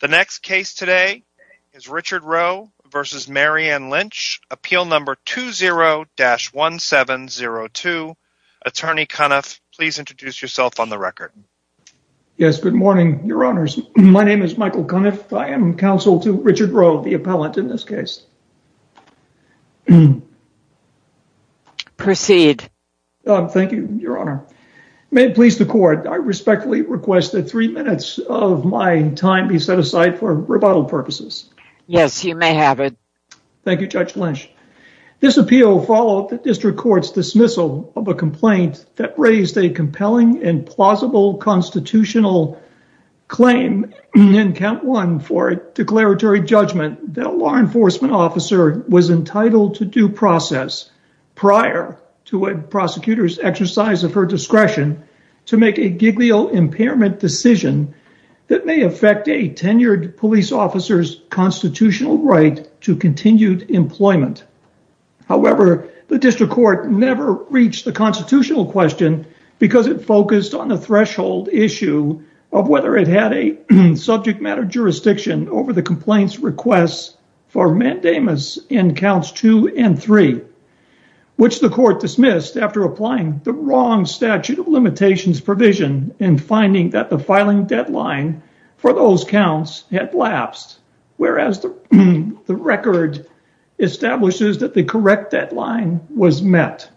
The next case today is Richard Roe v. Marianne Lynch, appeal number 20-1702. Attorney Cuniff, please introduce yourself on the record. Yes, good morning, Your Honors. My name is Michael Cuniff. I am counsel to Richard Roe, the appellant in this case. Proceed. Thank you, Your Honor. May it please the Court, I respectfully request that three minutes of my time be set aside for rebuttal purposes. Yes, you may have it. Thank you, Judge Lynch. This appeal followed the district court's dismissal of a complaint that raised a compelling and plausible constitutional claim in count one for a declaratory judgment that a law enforcement officer was entitled to due process prior to a prosecutor's exercise of her discretion to make a giglio impairment decision that may affect a tenured police officer's constitutional right to continued employment. However, the district court never reached the constitutional question because it focused on the threshold issue of whether it had a subject matter jurisdiction over the complaints requests for mandamus in counts two and three, which the court dismissed after applying the wrong statute of limitations provision in finding that the filing deadline for those counts had lapsed, whereas the record establishes that the correct deadline was met.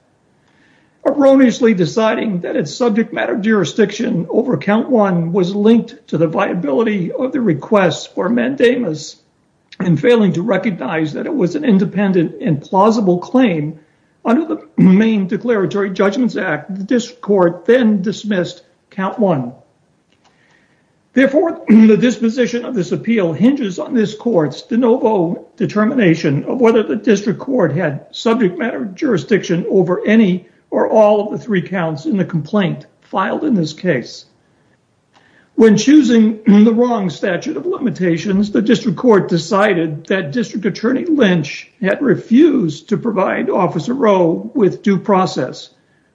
Erroneously deciding that its subject matter jurisdiction over count one was linked to the viability of the requests for mandamus and failing to recognize that it was an independent and plausible claim under the main declaratory judgments act, the district court then dismissed count one. Therefore, the disposition of this appeal hinges on this court's de novo determination of whether the district court had subject matter jurisdiction over any or all of the three counts in the complaint filed in this case. When choosing the wrong statute of limitations, the district court decided that district attorney Lynch had refused to provide officer Rowe with due process,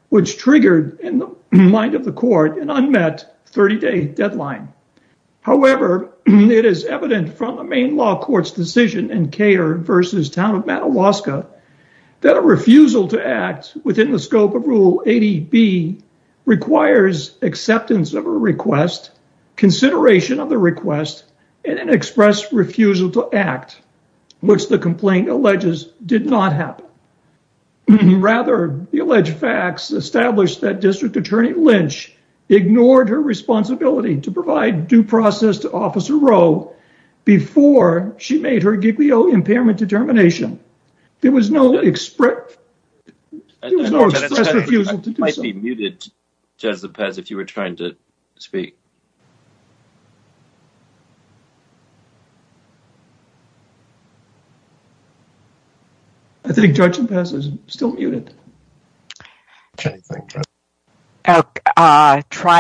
which triggered in the mind of the court an unmet 30-day deadline. However, it is evident from the main law court's decision in Kare versus Town of Matalaska that a refusal to act within the scope of Rule 80B requires acceptance of a request, consideration of the request, and an express refusal to act, which the complaint alleges did not happen. Rather, the alleged facts established that district attorney Lynch ignored her responsibility to provide due process to officer Rowe before she made her giglio impairment determination. There was no express refusal to do so. You might be muted, Jez Lepez, if you were trying to speak. I think Judge Lepez is still muted. Try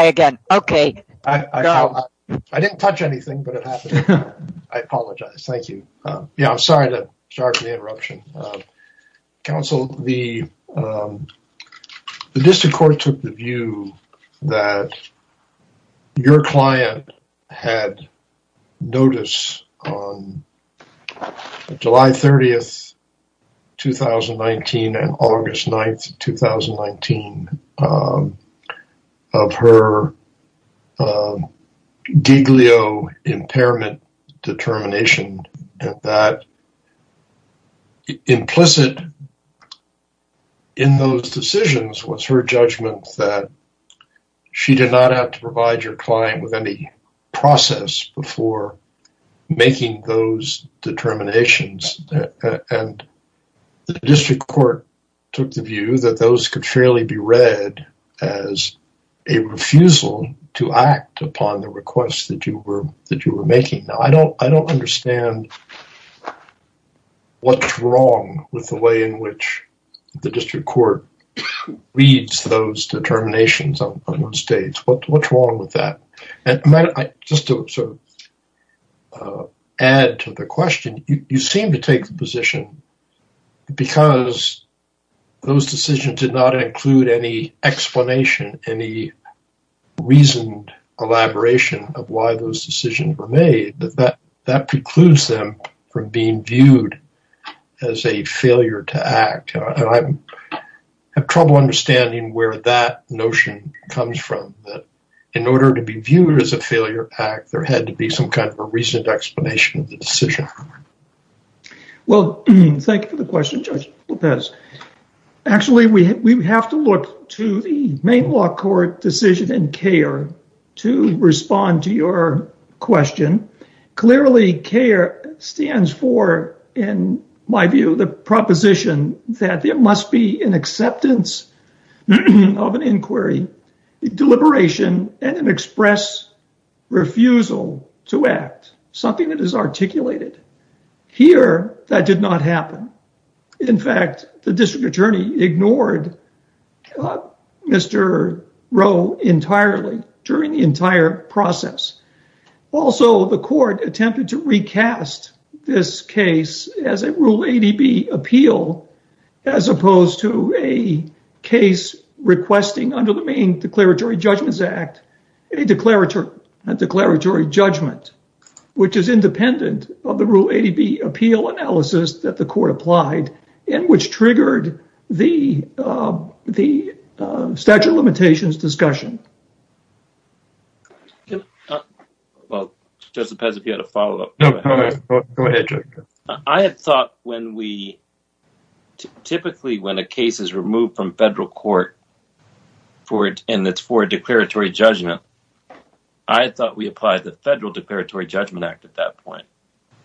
again. Okay. I didn't touch anything, but it happened. I apologize. Thank you. Yeah, I'm sorry to counsel. The district court took the view that your client had notice on July 30th, 2019 and August 9th, 2019 of her giglio impairment determination that implicit in those decisions was her judgment that she did not have to provide your client with any process before making those determinations. The district court took the view that those could fairly be read as a refusal to act upon the requests that you were making. I don't understand what's wrong with the way in which the district court reads those determinations on those dates. What's wrong with that? And just to sort of add to the question, you seem to take the position, because those decisions did not include any explanation, any reasoned elaboration of why those decisions were made, that precludes them from being a failure act. I have trouble understanding where that notion comes from, that in order to be viewed as a failure act, there had to be some kind of a reasoned explanation of the decision. Well, thank you for the question, Judge Lepez. Actually, we have to look to the main law court decision in CAIR to respond to your question. Clearly, CAIR stands for, in my view, the proposition that there must be an acceptance of an inquiry, a deliberation, and an express refusal to act, something that is articulated. Here, that did not happen. In fact, the Also, the court attempted to recast this case as a Rule 80B appeal, as opposed to a case requesting, under the main Declaratory Judgments Act, a declaratory judgment, which is independent of the Rule 80B appeal analysis that the court applied, and which Well, Judge Lepez, if you had a follow-up. No, go ahead. I had thought when we, typically, when a case is removed from federal court, and it's for a declaratory judgment, I thought we applied the Federal Declaratory Judgment Act at that point,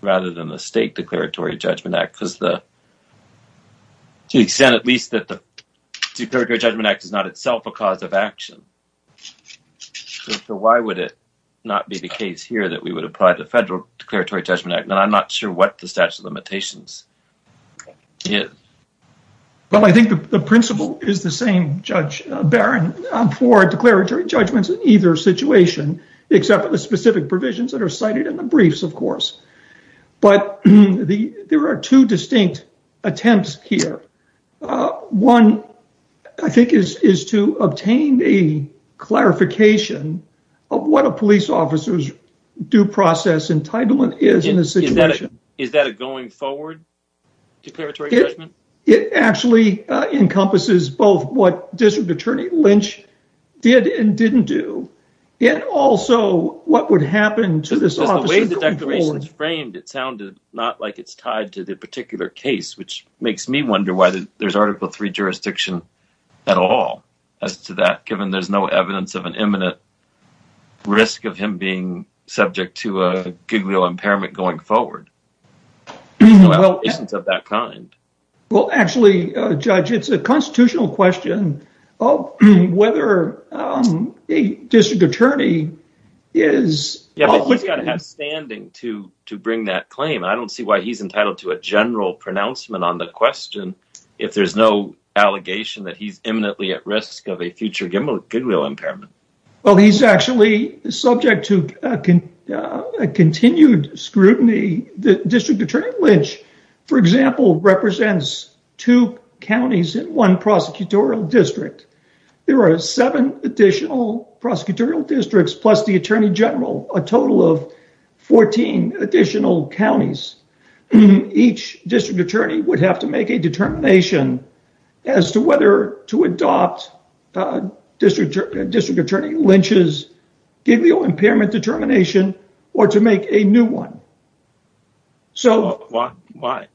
rather than the State Declaratory Judgment Act, because to the extent, at least, that the Declaratory Judgment Act, I'm not sure what the statute of limitations is. Well, I think the principle is the same, Judge Barron, for declaratory judgments in either situation, except for the specific provisions that are cited in the briefs, of course. But there are two distinct attempts here. One, I think, is to obtain a clarification of what a police officer's due process entitlement is in a situation. Is that a going-forward declaratory judgment? It actually encompasses both what District Attorney Lynch did and didn't do, and also what would happen to this officer. Because the way the declaration is framed, it sounded not like it's tied to the particular case, which makes me wonder why there's Article III jurisdiction at all as to that, risk of him being subject to a goodwill impairment going forward. No allegations of that kind. Well, actually, Judge, it's a constitutional question of whether a District Attorney is... Yeah, but he's got to have standing to bring that claim, and I don't see why he's entitled to a general pronouncement on the question if there's no allegation that he's imminently at risk of a future goodwill impairment. Well, he's actually subject to continued scrutiny. The District Attorney Lynch, for example, represents two counties and one prosecutorial district. There are seven additional prosecutorial districts plus the Attorney General, a total of 14 additional counties. Each District Attorney would have to make a determination as to whether to adopt a District Attorney Lynch's goodwill impairment determination or to make a new one. So... Why?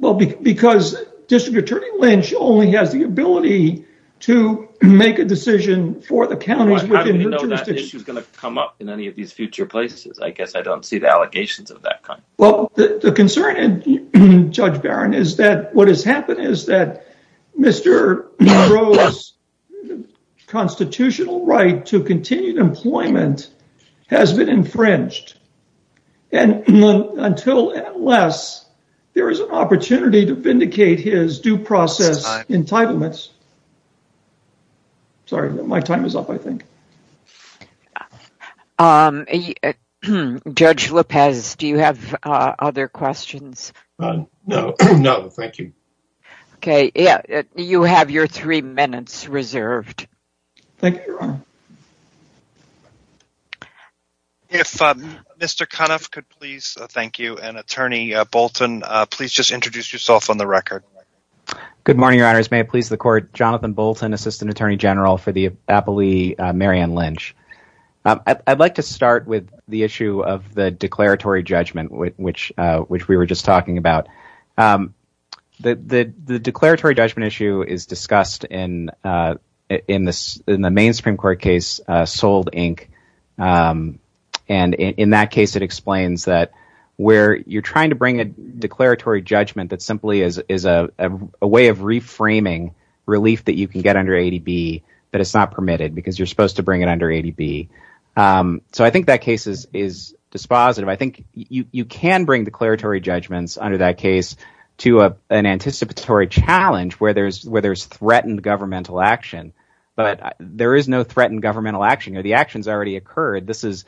Well, because District Attorney Lynch only has the ability to make a decision for the counties within her jurisdiction. How do we know that issue is going to come up in any of these future places? I guess I don't see the allegations of that kind. Well, the concern, Judge Barron, is that what has happened is that Mr. Monroe's constitutional right to continued employment has been infringed. Until and unless there is an opportunity to vindicate his due process entitlements... Sorry, my time is up, I think. Judge Lopez, do you have other questions? No, thank you. Okay, you have your three minutes reserved. Thank you, Your Honor. If Mr. Cunoff could please thank you and Attorney Bolton, please just introduce yourself on the record. Good morning, Your Honors. May it please the Court, Jonathan Bolton, Assistant Attorney General for the Appellee Marianne Lynch. I'd like to start with the issue of the declaratory judgment, which we were just talking about. The declaratory judgment issue is discussed in the main Supreme Court case, Soled, Inc., and in that case, it explains that where you're trying to bring a declaratory judgment that is a way of reframing relief that you can get under ADB that is not permitted because you're supposed to bring it under ADB. I think that case is dispositive. I think you can bring declaratory judgments under that case to an anticipatory challenge where there's threatened governmental action, but there is no threatened governmental action. The action has already occurred. This is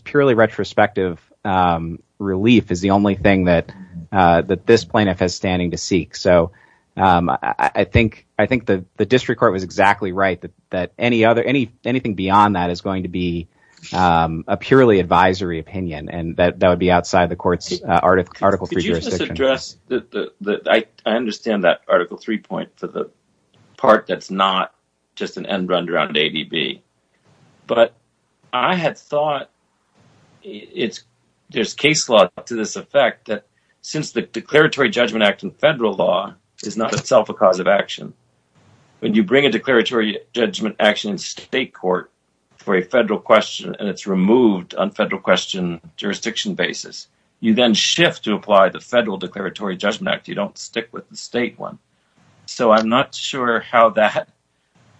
purely retrospective. Relief is the only thing that this plaintiff has standing to seek, so I think the district court was exactly right that anything beyond that is going to be a purely advisory opinion, and that would be outside the court's Article III jurisdiction. Could you just address—I understand that Article III point for the part that's not just an end run around ADB, but I had thought there's case law to this effect that since the Declaratory Judgment Act in federal law is not itself a cause of action, when you bring a declaratory judgment action in state court for a federal question and it's removed on federal question jurisdiction basis, you then shift to apply the federal Declaratory Judgment Act. You don't stick with the state one. So I'm not sure how that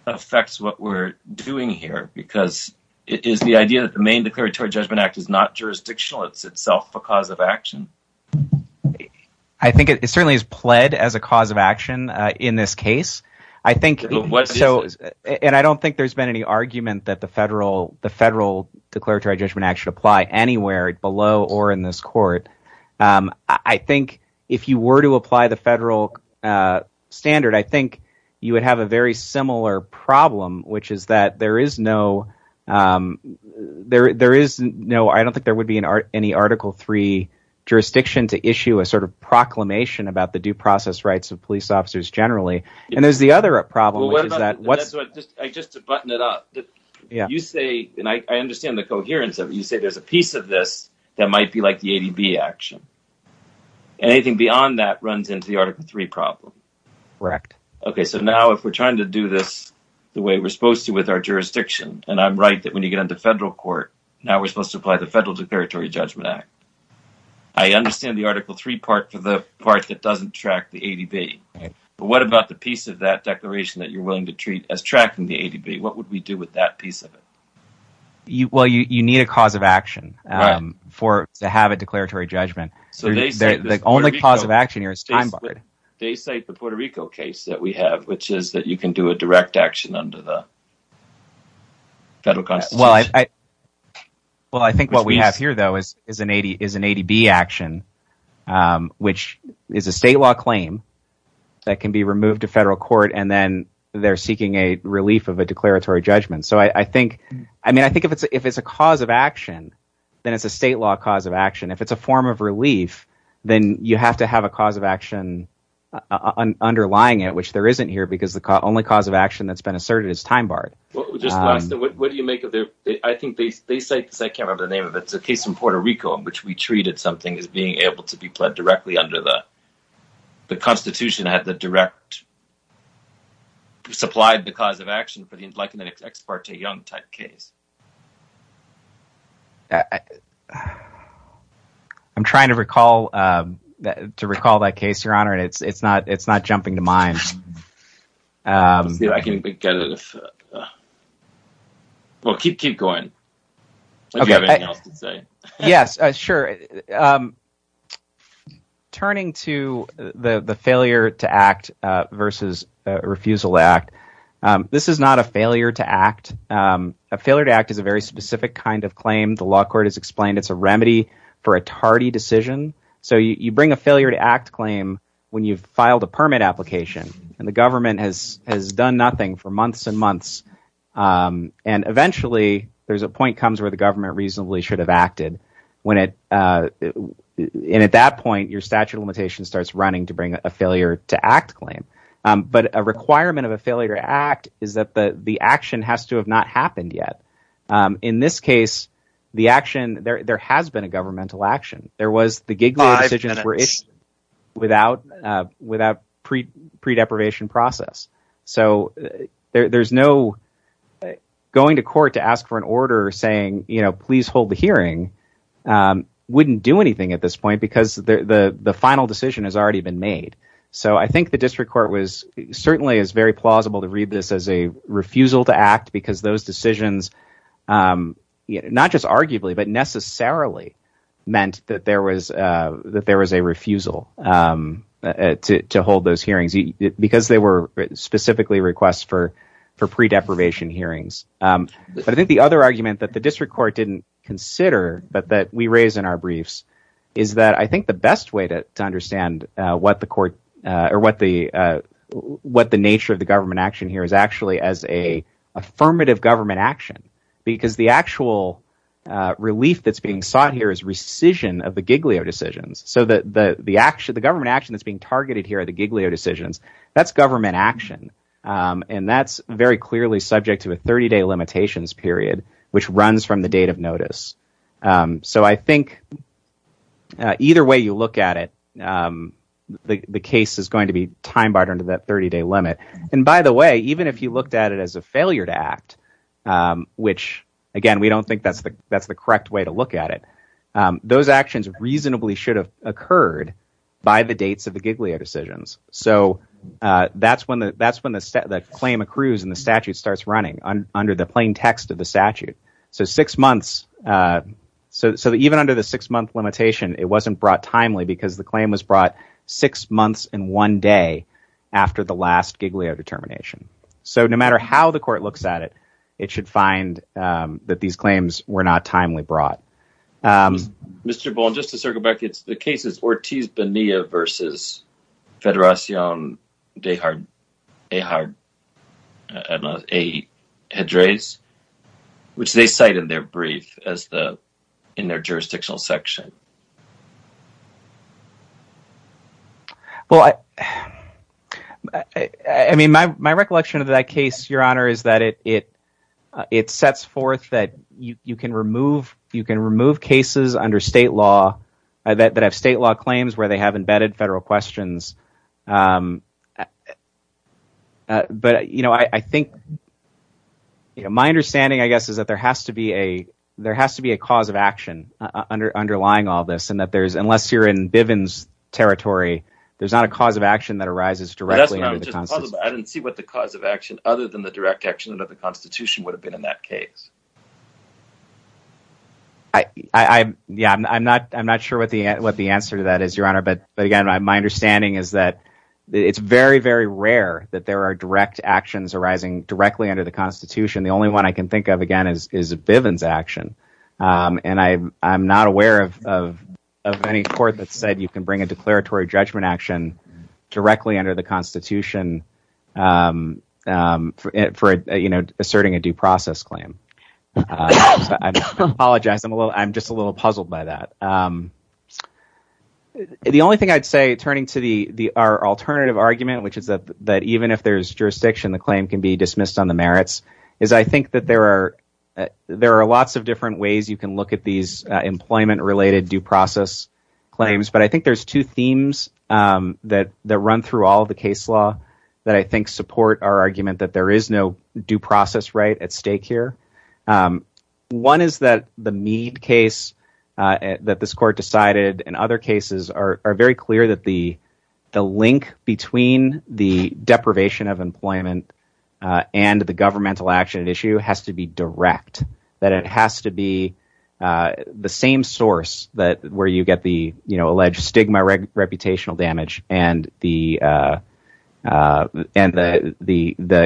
affects what we're doing here, because it is the idea that the main Declaratory Judgment Act is not jurisdictional. It's itself a cause of action. I think it certainly is pled as a cause of action in this case, and I don't think there's been any argument that the federal Declaratory Judgment Act should apply anywhere below or in this court. I think if you were to apply the federal standard, I think you would have a very similar problem, which is that there is no Article III jurisdiction to issue a sort of proclamation about the due process rights of police officers generally. And there's the other problem. Well, just to button it up, you say, and I understand the coherence of it, you say there's a piece of this that might be like the ADB action, and anything beyond that runs into the Article III problem. Correct. Okay, so now if we're trying to do this the way we're supposed to with our jurisdiction, and I'm right that when you get into federal court, now we're supposed to apply the federal Declaratory Judgment Act. I understand the Article III part for the part that doesn't track the ADB, but what about the piece of that declaration that you're willing to treat as tracking the ADB? What would we do with that piece of it? Well, you need a cause of action to have a declaratory judgment. The only cause of action here is time barred. They cite the Puerto Rico case that we have, which is that you can do a direct action under the federal constitution. Well, I think what we have here, though, is an ADB action, which is a state law claim that can be removed to federal court, and then they're seeking a relief of a declaratory judgment. I think if it's a cause of action, then it's a state law cause of action. If it's a form of relief, then you have to have a cause of action underlying it, which there isn't here, because the only cause of action that's been asserted is time barred. I think they cite the case in Puerto Rico in which we treated something as being able to be pled directly under the constitution that had the direct, supplied the cause of action for the Enlightenment ex parte young type case. I'm trying to recall that case, Your Honor, and it's not jumping to mind. I can get it. Well, keep going. Do you have anything else to say? Yes, sure. Turning to the failure to act versus refusal to act, this is not a failure to act. A failure to act is a very specific kind of claim. The law court has explained it's a remedy for a tardy decision, so you bring a failure to act claim when you've filed a permit application and the government has done nothing for months and months, and eventually, there's a point that comes where the government reasonably should have acted, and at that point, your statute of limitations starts running to bring a failure to act claim, but a requirement of a failure to act is that the action has to have not happened yet. In this case, there has been a governmental action. There was the Giglio decision without pre-deprivation process, so going to court to ask for an order saying, please hold the hearing wouldn't do anything at this point because the final decision has already been made. I think the district court certainly is very plausible to read this as a refusal to act because those decisions, not just arguably, but necessarily meant that there was a refusal to hold those hearings because they were specifically requests for pre-deprivation hearings, but I think the other argument that the district court didn't consider but that we raise in our briefs is that I think the best way to understand what the nature of the government action here is actually as an affirmative government action because the actual relief that's being sought here is rescission of the Giglio decisions, so the government action that's being targeted here at the Giglio decisions, that's government action, and that's very clearly subject to a 30-day limitations period, which runs from the date of notice, so I think either way you look at it, the case is going to be time barred under that 30-day limit, and by the way, even if you looked at it as a failure to act, which again, we don't think that's the correct way to look at it, those actions reasonably should have occurred by the dates of the Giglio decisions, so that's when the claim accrues and the statute starts running under the plain text of the statute, so six months, so even under the six-month limitation, it wasn't brought timely because the claim was brought six months in one day after the last Giglio determination, so no matter how the court looks at it, it should find that these claims were not timely brought. Mr. Boland, just to circle ahead, which they cite in their brief in their jurisdictional section. Well, I mean, my recollection of that case, Your Honor, is that it sets forth that you can remove cases under state law that have state law claims where they have embedded federal questions, but my understanding, I guess, is that there has to be a cause of action underlying all this, and that unless you're in Bivens territory, there's not a cause of action that arises directly under the Constitution. I didn't see what the cause of action other than the direct action under the Constitution would have been in that case. I'm not sure what the answer to that is, but again, my understanding is that it's very, very rare that there are direct actions arising directly under the Constitution. The only one I can think of, again, is Bivens action, and I'm not aware of any court that said you can bring a declaratory judgment action directly under the Constitution for asserting a due process claim. I apologize. I'm just a little puzzled by that. The only thing I'd say, turning to our alternative argument, which is that even if there's jurisdiction, the claim can be dismissed on the merits, is I think that there are lots of different ways you can look at these employment-related due process claims, but I think there's two themes that run through all of the case law that I think support our argument that there is no due process right at stake here. One is that the Meade case that this court decided in other cases are very clear that the link between the deprivation of employment and the governmental action at issue has to be direct, that it has to be the same source where you get the alleged stigma, reputational damage, and the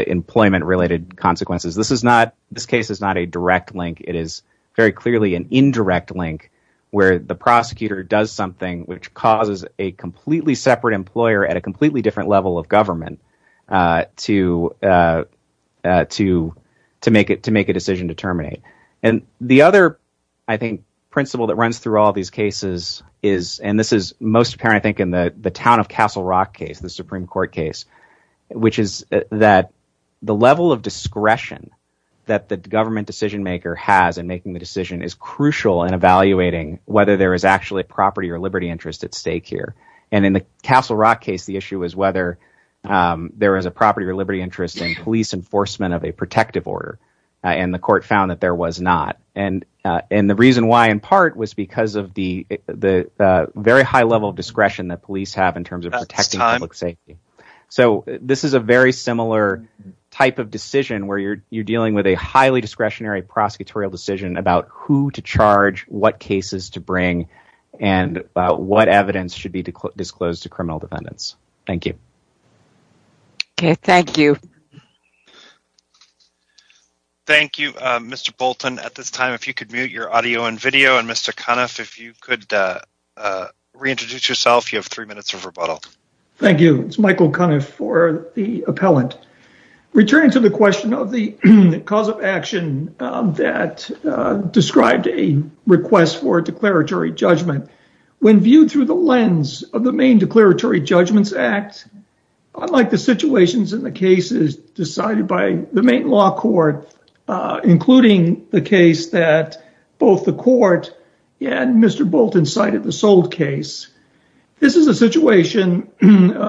employment-related consequences. This case is not a direct link. It is very clearly an indirect link where the prosecutor does something which causes a completely separate employer at a completely different level of government to make a decision to terminate. The other principle that runs through all these cases and this is most apparent in the town of Castle Rock case, the Supreme Court case, which is that the level of discretion that the government decision maker has in making the decision is crucial in evaluating whether there is actually a property or liberty interest at stake here. In the Castle Rock case, the issue is whether there is a property or liberty interest in police enforcement of a protective order, and the court found that there was not. The reason why in part was because of the very high level of discretion that police have in terms of protecting public safety. This is a very similar type of decision where you're dealing with a highly discretionary prosecutorial decision about who to charge, what cases to bring, and what evidence should be disclosed to criminal defendants. Thank you. Thank you, Mr. Bolton. At this time, if you could mute your audio and video, and Mr. Cunniff, if you could reintroduce yourself, you have three minutes of rebuttal. Thank you. It's Michael Cunniff for the appellant. Returning to the question of the cause of action that described a request for a declaratory judgment, when viewed through the lens of the Maine Declaratory Judgments Act, unlike the situations in the cases decided by the Maine Law Court, including the case that both the court and Mr. Bolton cited, the SOLD case, this is a situation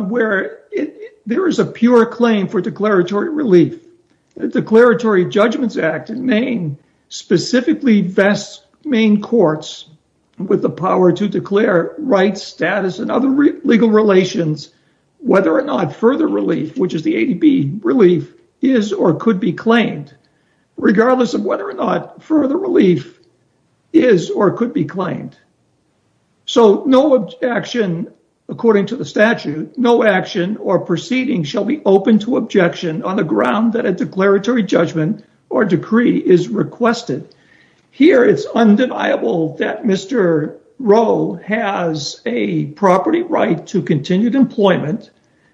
where there is a pure claim for declaratory relief. The Declaratory Judgments Act in Maine specifically vests Maine courts with the power to declare rights, status, and other legal relations, whether or not further relief, which is the ADB relief, is or could be claimed. Regardless of whether or not further relief is or could be claimed. So, no action, according to the statute, no action or proceeding shall be open to objection on the ground that a declaratory judgment or decree is requested. Here, it's undeniable that Mr. Rowe has a property right to continued employment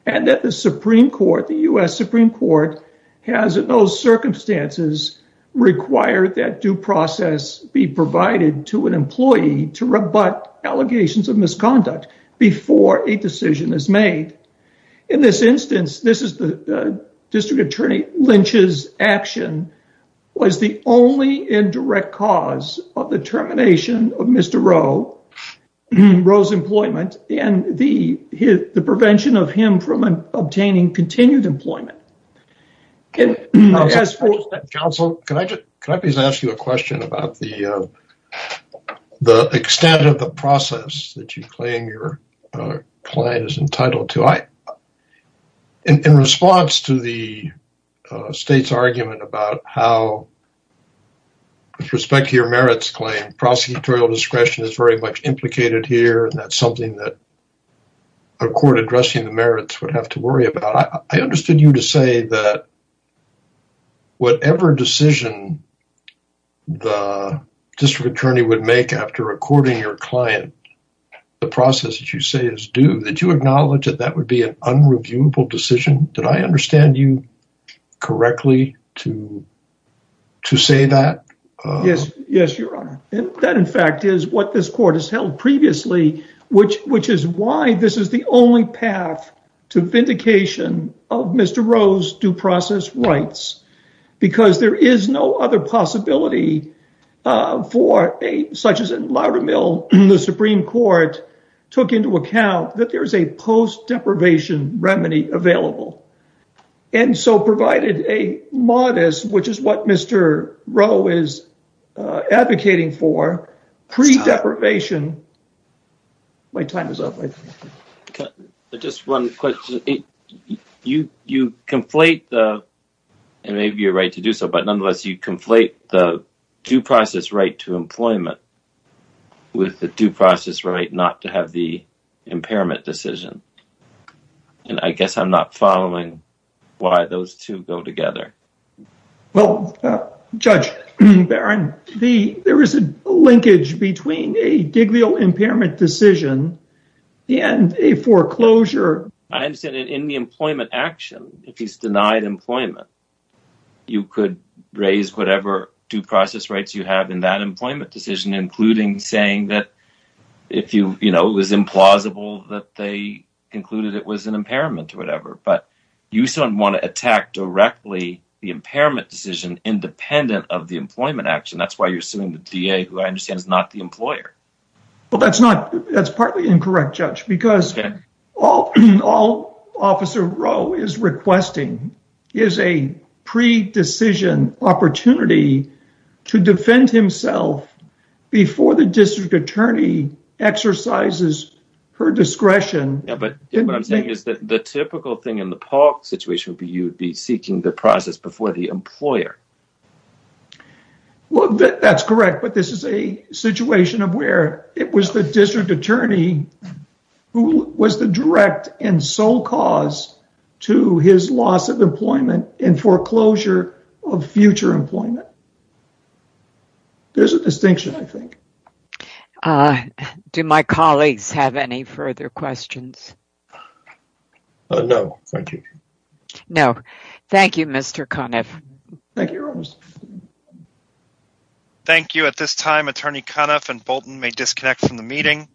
and that the Supreme Court, the U.S. Supreme Court, has in those circumstances required that due process be provided to an employee to rebut allegations of misconduct before a decision is made. In this instance, this is the District Attorney Lynch's action, was the only indirect cause of the termination of Mr. Rowe's employment and the prevention of him from obtaining continued employment. Counsel, can I just ask you a question about the extent of the process that you claim your client is entitled to? In response to the argument about how, with respect to your merits claim, prosecutorial discretion is very much implicated here and that's something that a court addressing the merits would have to worry about, I understood you to say that whatever decision the District Attorney would make after recording your client, the process that you say is due, did you acknowledge that that would be an unreviewable decision? Did I understand you correctly to say that? Yes, your honor. That, in fact, is what this court has held previously, which is why this is the only path to vindication of Mr. Rowe's due process rights because there is no other possibility for, such as in Loudermill, the Supreme Court took into account that there is a post-deprivation remedy available and so provided a modest, which is what Mr. Rowe is advocating for, pre-deprivation... My time is up. Just one question. You conflate the, and maybe you're right to do so, you conflate the due process right to employment with the due process right not to have the impairment decision and I guess I'm not following why those two go together. Well, Judge Barron, there is a linkage between a giglio impairment decision and a foreclosure. I understand that in the employment action, if he's denied employment, you could raise whatever due process rights you have in that employment decision, including saying that if it was implausible that they concluded it was an impairment or whatever, but you still don't want to attack directly the impairment decision independent of the employment action. That's why you're suing the DA, who I understand is not the employer. Well, that's partly incorrect, Judge, because all Officer Rowe is requesting is a pre-decision opportunity to defend himself before the district attorney exercises her discretion. But what I'm saying is that the typical thing in the park situation would be you would be seeking the process before the employer. Well, that's correct, but this is a it was the district attorney who was the direct and sole cause to his loss of employment and foreclosure of future employment. There's a distinction, I think. Do my colleagues have any further questions? No, thank you. No, thank you, Mr. Conniff. Thank you, Rose. Thank you. At this time, Attorney Conniff and Bolton may disconnect from the meeting.